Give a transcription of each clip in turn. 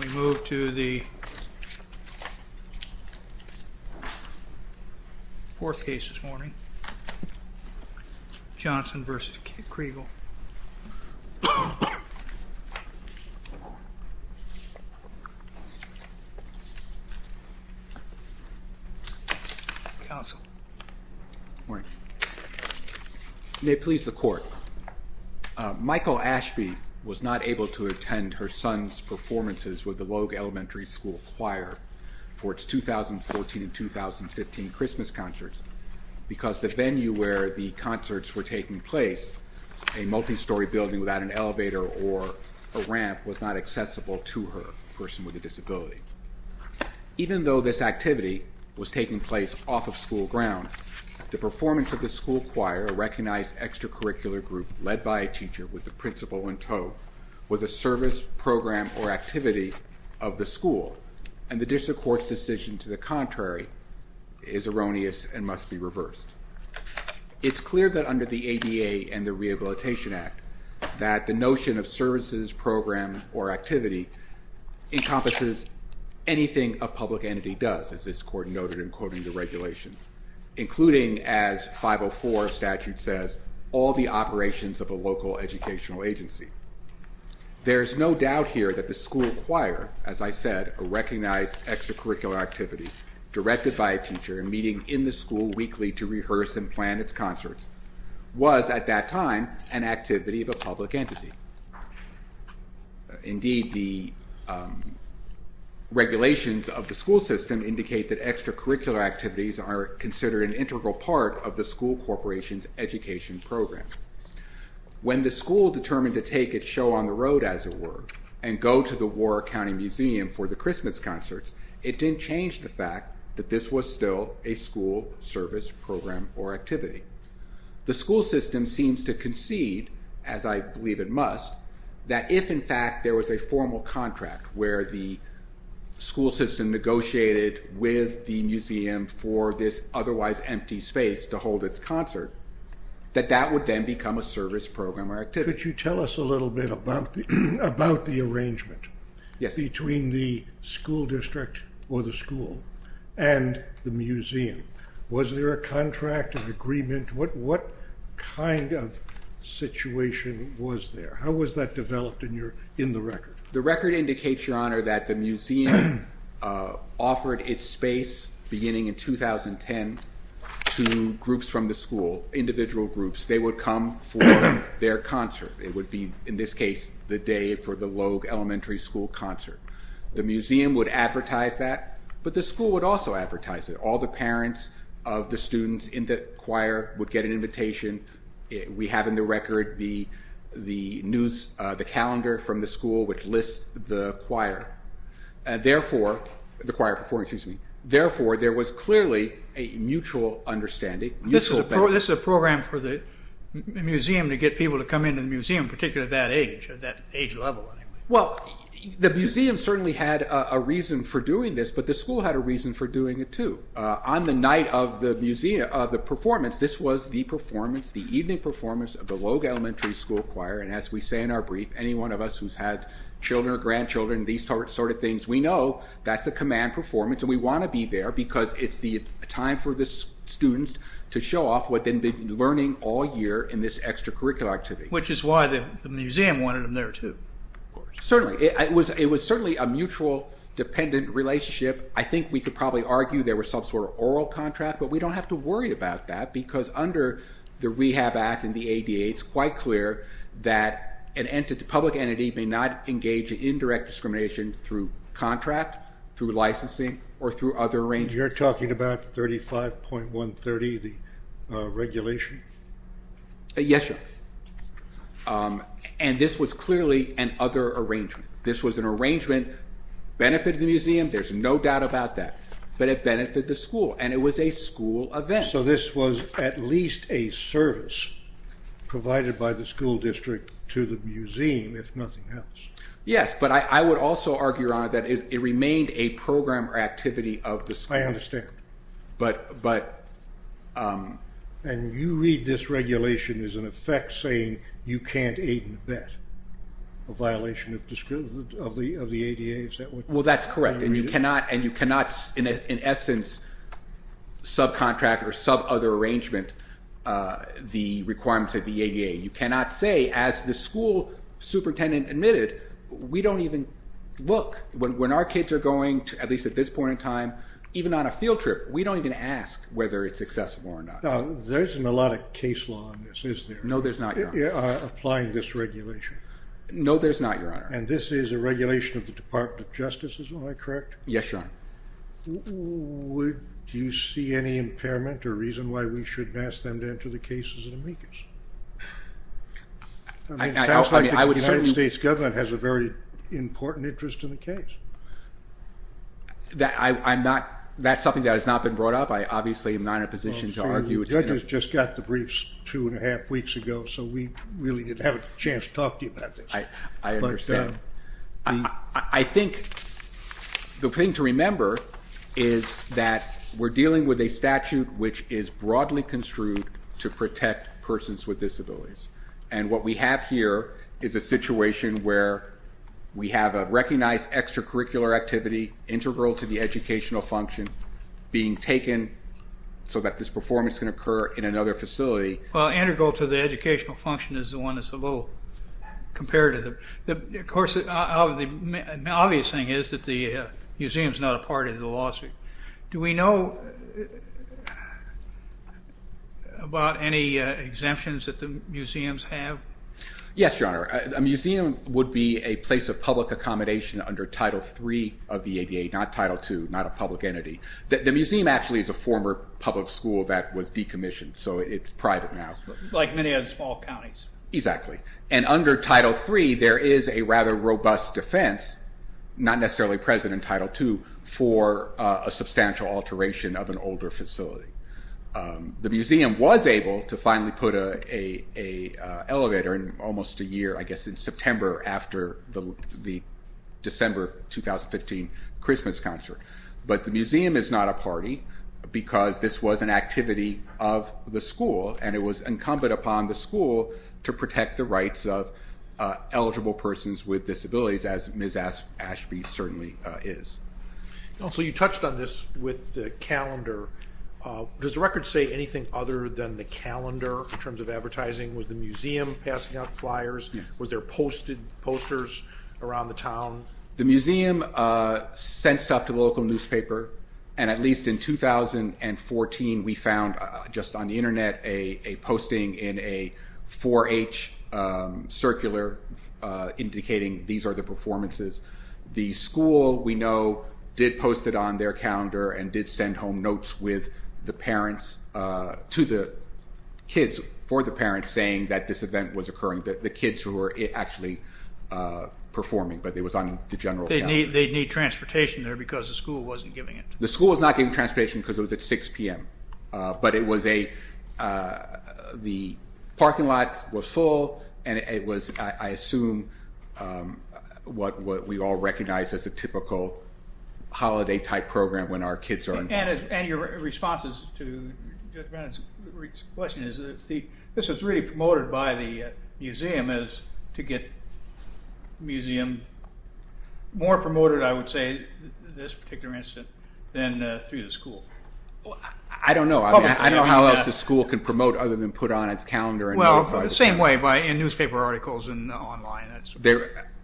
We move to the fourth case this morning. Johnson v. Kriegel. Counsel. Morning. May it please the court, Michael Ashby was not able to attend her son's performances with the Logue Elementary School Choir for its 2014 and 2015 Christmas concerts because the venue where the concerts were taking place, a multi-story building without an elevator or a ramp, was not accessible to her, a person with a disability. Even though this activity was taking place off of school ground, the performance of the school choir, a recognized extracurricular group led by a teacher with a principal in tow, was a service, program, or activity of the school. And the district court's decision to the contrary is erroneous and must be reversed. It's clear that under the ADA and the Rehabilitation Act that the notion of services, program, or activity encompasses anything a public entity does, as this court noted in quoting the regulations, including, as 504 statute says, all the operations of a local educational agency. There is no doubt here that the school choir, as I said, a recognized extracurricular activity directed by a teacher and meeting in the school weekly to rehearse and plan its concerts, was at that time an activity of a public entity. Indeed, the regulations of the school system indicate that extracurricular activities are considered an integral part of the school corporation's education program. When the school determined to take its show on the road, as it were, and go to the Warwick County Museum for the Christmas concerts, it didn't change the fact that this was still a school, service, program, or activity. The school system seems to concede, as I believe it must, that if in fact there was a formal contract where the school system negotiated with the museum for this otherwise empty space to hold its concert, that that would then become a service, program, or activity. Could you tell us a little bit about the arrangement between the school district or the school and the museum? Was there a contract, an agreement? What kind of situation was there? How was that developed in the record? The record indicates, Your Honor, that the museum offered its space, beginning in 2010, to groups from the school, individual groups. They would come for their concert. It would be, in this case, the day for the Logue Elementary School concert. The museum would advertise that, but the school would also advertise it. All the parents of the students in the choir would get an invitation. We have in the record the calendar from the school which lists the choir. Therefore, there was clearly a mutual understanding. This is a program for the museum to get people to come into the museum, particularly at that age, at that age level. Well, the museum certainly had a reason for doing this, but the school had a reason for doing it, too. On the night of the performance, this was the performance, the Logue Elementary School Choir. As we say in our brief, any one of us who's had children or grandchildren, these sort of things, we know that's a command performance. We want to be there because it's the time for the students to show off what they've been learning all year in this extracurricular activity. Which is why the museum wanted them there, too. Certainly. It was certainly a mutual, dependent relationship. I think we could probably argue there was some sort of oral contract, but we don't have to worry about that because under the Rehab Act and the ADA, it's quite clear that a public entity may not engage in indirect discrimination through contract, through licensing, or through other arrangements. You're talking about 35.130, the regulation? Yes, sir. This was clearly an other arrangement. This was an arrangement, benefited the museum, there's no doubt about that, but it benefited the school, and it was a school event. So this was at least a service provided by the school district to the museum, if nothing else. Yes, but I would also argue, Your Honor, that it remained a program or activity of the school. I understand. And you read this regulation as an effect saying you can't aid and abet a violation of the ADA, is that what you're saying? Well, that's correct. And you cannot, in essence, subcontract or sub-other arrangement the requirements of the ADA. You cannot say, as the school superintendent admitted, we don't even look. When our kids are going, at least at this point in time, even on a field trip, we don't even ask whether it's accessible or not. Now, there isn't a lot of case law on this, is there? No, there's not, Your Honor. Applying this regulation. No, there's not, Your Honor. And this is a regulation of the Department of Justice, is that correct? Yes, Your Honor. Do you see any impairment or reason why we shouldn't ask them to enter the case as an amicus? I mean, it sounds like the United States government has a very important interest in the case. That's something that has not been brought up. I obviously am not in a position to argue it's an amicus. Judges just got the briefs two and a half years ago. I don't have a chance to talk to you about this. I understand. I think the thing to remember is that we're dealing with a statute which is broadly construed to protect persons with disabilities. And what we have here is a situation where we have a recognized extracurricular activity, integral to the educational function, being taken so that this performance can occur in another facility. Well, integral to the educational function is the one that's the low, compared to the, of course, the obvious thing is that the museum's not a part of the lawsuit. Do we know about any exemptions that the museums have? Yes, Your Honor. A museum would be a place of public accommodation under Title III of the ADA, not Title II, not a public entity. The museum actually is a former public school that was decommissioned, so it's small counties. Exactly, and under Title III there is a rather robust defense, not necessarily present in Title II, for a substantial alteration of an older facility. The museum was able to finally put a elevator in almost a year, I guess, in September after the December 2015 Christmas concert, but the museum is not a party because this was an activity of the school and it was incumbent upon the school to protect the rights of eligible persons with disabilities, as Ms. Ashby certainly is. So you touched on this with the calendar. Does the record say anything other than the calendar in terms of advertising? Was the museum passing out flyers? Were there posted posters around the town? The museum sent stuff to the local newspaper and at least in 2014 we found, just on the internet, a posting in a 4-H circular indicating these are the performances. The school, we know, did post it on their calendar and did send home notes with the parents, to the kids, for the parents saying that this event was occurring, that the kids who were actually performing, but it was on the general calendar. They'd need transportation there because the school wasn't giving it. The school was not giving transportation because it was at 6 p.m., but it was a the parking lot was full and it was, I assume, what we all recognize as a typical holiday-type program when our kids are involved. And your responses to Judge Bannon's question is that this was really promoted by the museum as to get the museum more promoted, I would say, this particular incident, than through the school. I don't know. I don't know how else the school can promote other than put on its calendar. Well, the same way, in newspaper articles and online.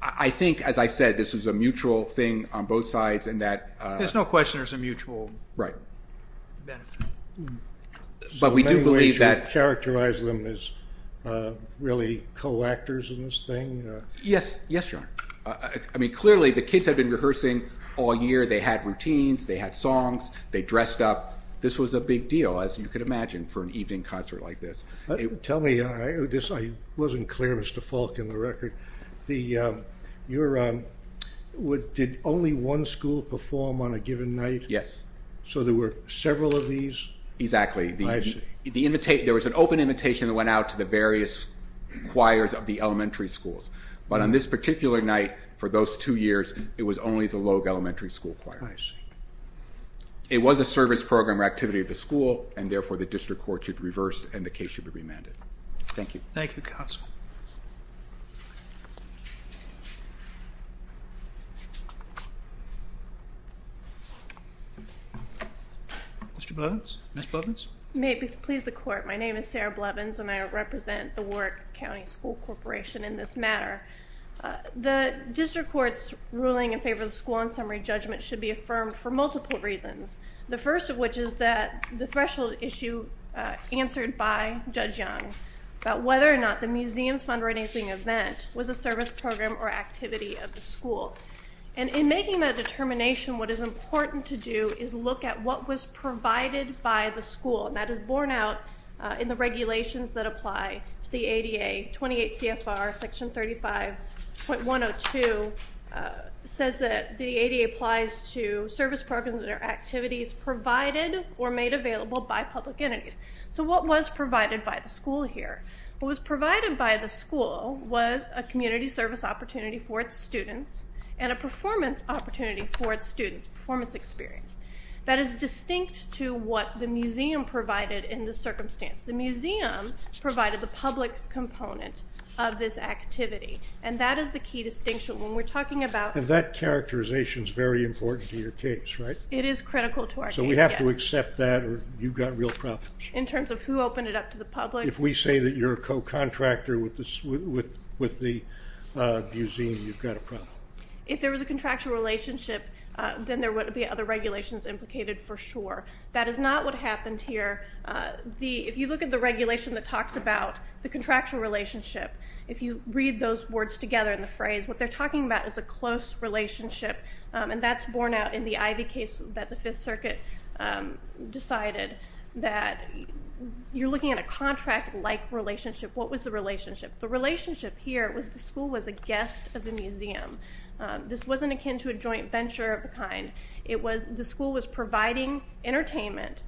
I think, as I said, this is a mutual thing on both sides and that... There's no question there's a mutual benefit. Right. But we do believe that... So many ways you characterize them as really co-actors in this thing? Yes, yes, Your Honor. I mean, clearly the kids have been rehearsing all year. They had routines, they had songs, they dressed up. This was a big deal, as you could imagine, for an evening concert like this. Tell me, I wasn't clear, Mr. Falk, in the record. Did only one school perform on a given night? Yes. So there were several of these? Exactly. There was an open invitation that went out to the various choirs of the elementary schools, but on this particular night, for those two years, it was only the Logue Elementary School Choir. I see. It was a service program or activity of the school and, therefore, the district court should reverse and the case should be remanded. Thank you. Thank you, counsel. Mr. Blevins? Ms. Blevins? May it please the court, my name is Sarah Blevins and I represent the Ward County School Corporation in this matter. The district court's ruling in favor of the school on summary judgment should be affirmed for multiple reasons. The first of which is that the threshold issue answered by Judge Young about whether or not the museum's fundraising event was a service program or activity of the school. And in making that determination, what is important to do is look at what was provided by the school, and that is borne out in the regulations that apply to the ADA. 28 CFR section 35.102 says that the ADA applies to service programs or activities provided or made available by public entities. So what was provided by the school here? What was provided by the school was a community service opportunity for its students and a performance opportunity for its students, performance experience, that is distinct to what the museum provided in this circumstance. The museum provided the public component of this activity, and that is the key distinction when we're talking about... And that characterization is very important to your case, right? It is critical to our case, yes. So we have to accept that or you've got real problems. In terms of who opened it up to the public. If we say that you're a co-contractor with the museum, you've got a problem. If there was a contractual relationship, then there is a problem. That is not what happened here. If you look at the regulation that talks about the contractual relationship, if you read those words together in the phrase, what they're talking about is a close relationship, and that's borne out in the Ivy case that the Fifth Circuit decided that you're looking at a contract-like relationship. What was the relationship? The relationship here was the school was a guest of the museum. This wasn't akin to a joint venture of entertainment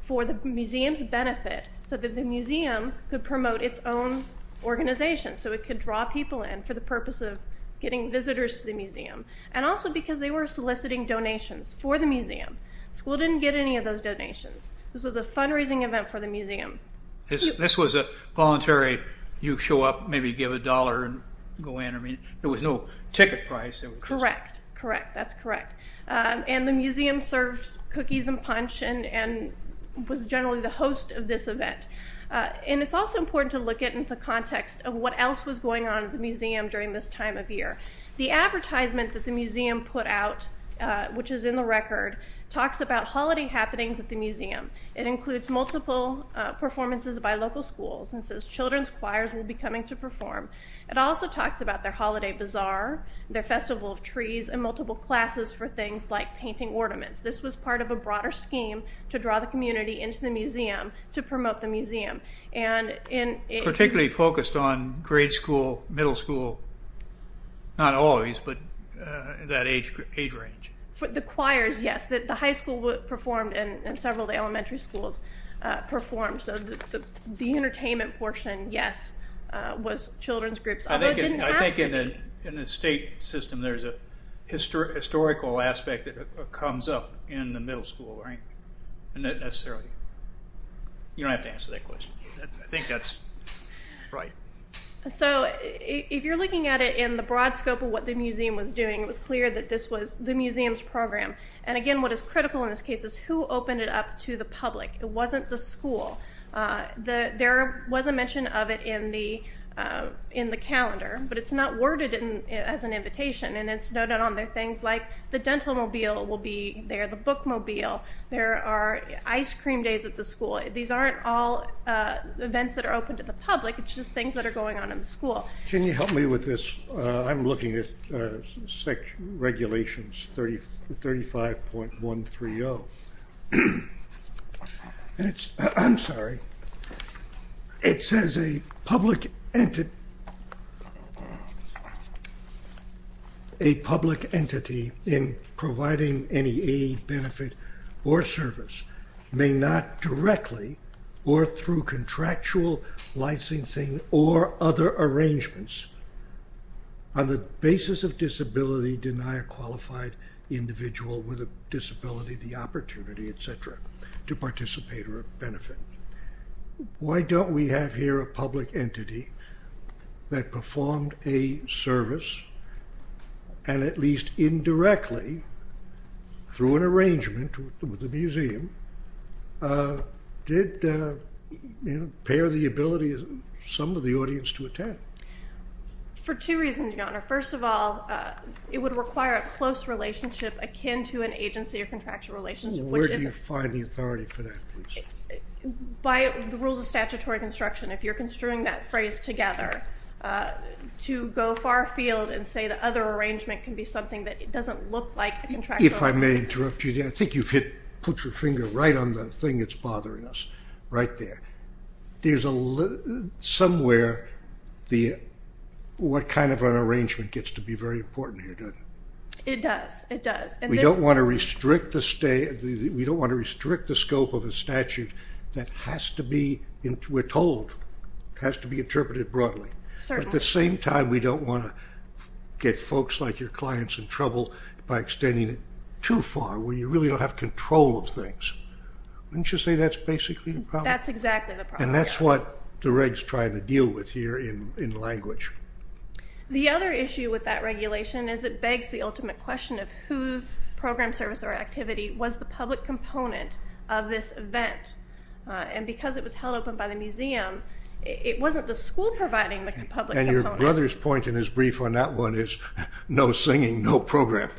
for the museum's benefit, so that the museum could promote its own organization, so it could draw people in for the purpose of getting visitors to the museum, and also because they were soliciting donations for the museum. School didn't get any of those donations. This was a fundraising event for the museum. This was a voluntary, you show up, maybe give a dollar and go in, I mean there was no ticket price. Correct, correct, that's correct. And the museum served cookies and punch, and was generally the host of this event. And it's also important to look at in the context of what else was going on at the museum during this time of year. The advertisement that the museum put out, which is in the record, talks about holiday happenings at the museum. It includes multiple performances by local schools, and says children's choirs will be coming to perform. It also talks about their holiday bazaar, their festival of This was part of a broader scheme to draw the community into the museum, to promote the museum. And in... Particularly focused on grade school, middle school, not always, but that age range. For the choirs, yes. The high school performed, and several elementary schools performed, so the entertainment portion, yes, was children's groups. I think in the state system there's a historical aspect that comes up in the middle school, right? And that necessarily, you don't have to answer that question. I think that's right. So if you're looking at it in the broad scope of what the museum was doing, it was clear that this was the museum's program, and again what is critical in this case is who opened it up to the public. It wasn't the school. There was a mention of it in the calendar, but it's not worded as an event. There are things like the dental mobile will be there, the book mobile. There are ice cream days at the school. These aren't all events that are open to the public, it's just things that are going on in the school. Can you help me with this? I'm looking at regulations 35.130, and it's... I'm sorry, it says a public entity... A public entity in providing any aid, benefit, or service may not directly or through contractual licensing or other arrangements on the basis of disability deny a qualified individual with a disability the opportunity, etc., to perform a service, and at least indirectly, through an arrangement with the museum, did impair the ability of some of the audience to attend. For two reasons, Your Honor. First of all, it would require a close relationship akin to an agency or contractual relationship. Where do you find the authority for that? By the to go far field and say the other arrangement can be something that it doesn't look like a contractual... If I may interrupt you, I think you've hit... put your finger right on the thing that's bothering us, right there. There's a... somewhere the... what kind of an arrangement gets to be very important here, doesn't it? It does, it does. We don't want to restrict the state... we don't want to restrict the scope of a statute that has to be... we're told it has to be at the same time, we don't want to get folks like your clients in trouble by extending it too far, where you really don't have control of things. Wouldn't you say that's basically the problem? That's exactly the problem. And that's what the reg's trying to deal with here in language. The other issue with that regulation is it begs the ultimate question of whose program, service, or activity was the public component of this event, and because it was held open by the museum, it wasn't the school providing the public component. And your brother's point in his brief on that one is no singing, no program.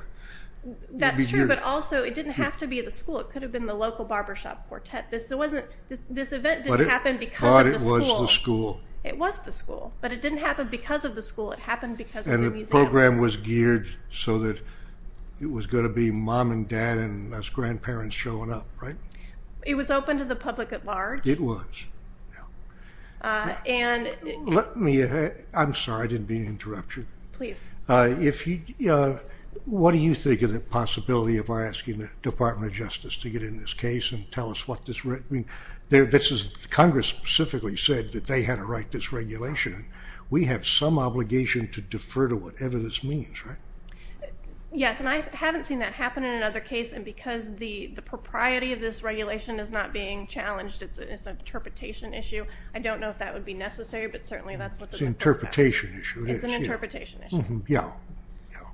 That's true, but also it didn't have to be at the school. It could have been the local barbershop quartet. This event didn't happen because of the school. But it was the school. It was the school, but it didn't happen because of the school, it happened because of the museum. And the program was geared so that it was going to be mom and dad and us grandparents showing up, right? It was open to the public at large. It was. I'm sorry, I didn't mean to interrupt you. Please. What do you think of the possibility of our asking the Department of Justice to get in this case and tell us what this... Congress specifically said that they had to write this regulation. We have some obligation to defer to whatever this means, right? Yes, and I haven't seen that happen in another case, and because the propriety of this is an interpretation issue. I don't know if that would be necessary, but certainly that's what... It's an interpretation issue. It is, yeah. It's an interpretation issue. Yeah,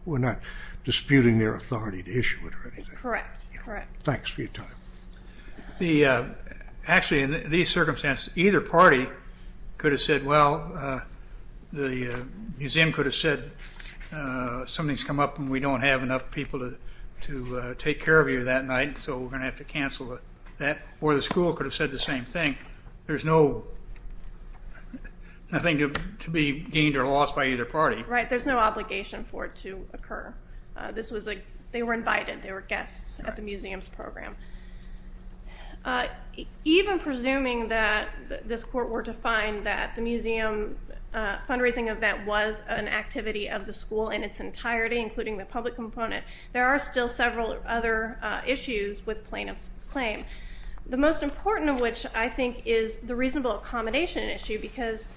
we're not disputing their authority to issue it or anything. Correct, correct. Thanks for your time. Actually, in these circumstances, either party could have said, well, the museum could have said, something's come up and we don't have enough people to take care of you that night, so we're going to have to cancel that, or the school could have said the same thing. There's nothing to be gained or lost by either party. Right, there's no obligation for it to occur. They were invited. They were guests at the museum's program. Even presuming that this court were to find that the museum fundraising event was an activity of the school in its entirety, including the public component, there are still several other issues with plaintiff's claim. The most important of which, I think, is the reasonable accommodation issue, because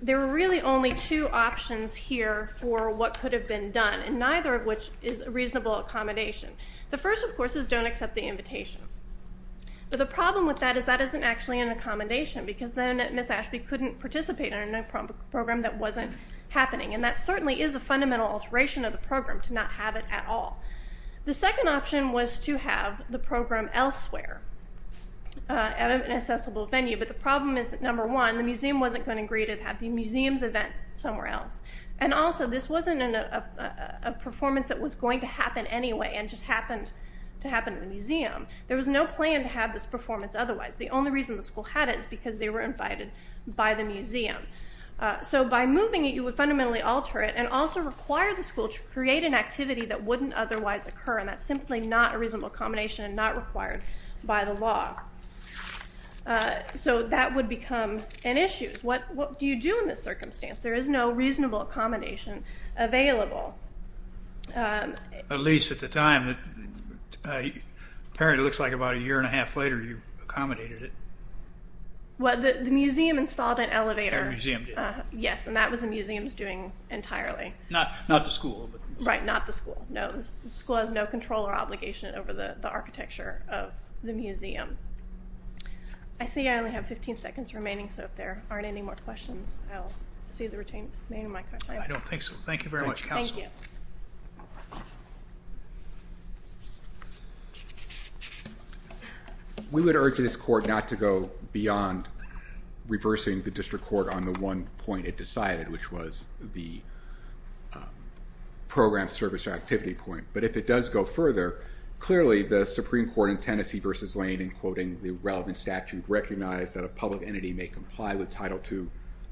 there were really only two options here for what could have been done, and neither of which is a reasonable accommodation. The first, of course, is don't accept the invitation. But the problem with that is that isn't actually an accommodation, because then Ms. Ashby couldn't participate in a program that wasn't happening, and that certainly is a fundamental alteration of the program to not have it at all. The second option was to have the program elsewhere at an accessible venue, but the problem is that, number one, the museum wasn't going to agree to have the museum's event somewhere else, and also this wasn't a performance that was going to happen anyway and just happened to happen at the museum. There was no plan to have this performance otherwise. The only reason the school had it is because they were invited by the museum. So by moving it, you would fundamentally alter it and also require the school to create an activity that wouldn't otherwise occur, and that's simply not a reasonable accommodation and not required by the law. So that would become an issue. What do you do in this circumstance? There is no reasonable accommodation available. At least at the time. Apparently it looks like about a year and a half later you accommodated it. The museum installed an elevator. The museum did. Yes, and that was the museum's doing entirely. Not the school. Right, not the school. No, the school has no control or obligation over the architecture of the museum. I see I only have 15 seconds remaining, so if there aren't any more questions, I'll see the retainer. I don't think so. Thank you very much, Counsel. Thank you. We would urge this court not to go beyond reversing the district court on the one point it decided, which was the program service activity point, but if it does go further, clearly the Supreme Court in Tennessee v. Lane in quoting the relevant statute recognized that a public entity may comply with Title II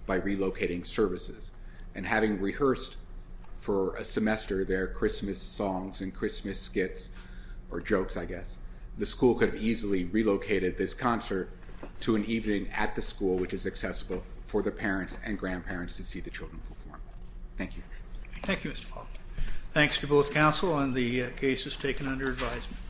by relocating services, and having rehearsed for a semester their Christmas songs and Christmas skits, or jokes I guess, the school could have easily relocated this concert to an evening at the school which is accessible for the parents and grandparents to see the children perform. Thank you. Thank you, Mr. Falk. Thanks to both counsel and the cases taken under advisement.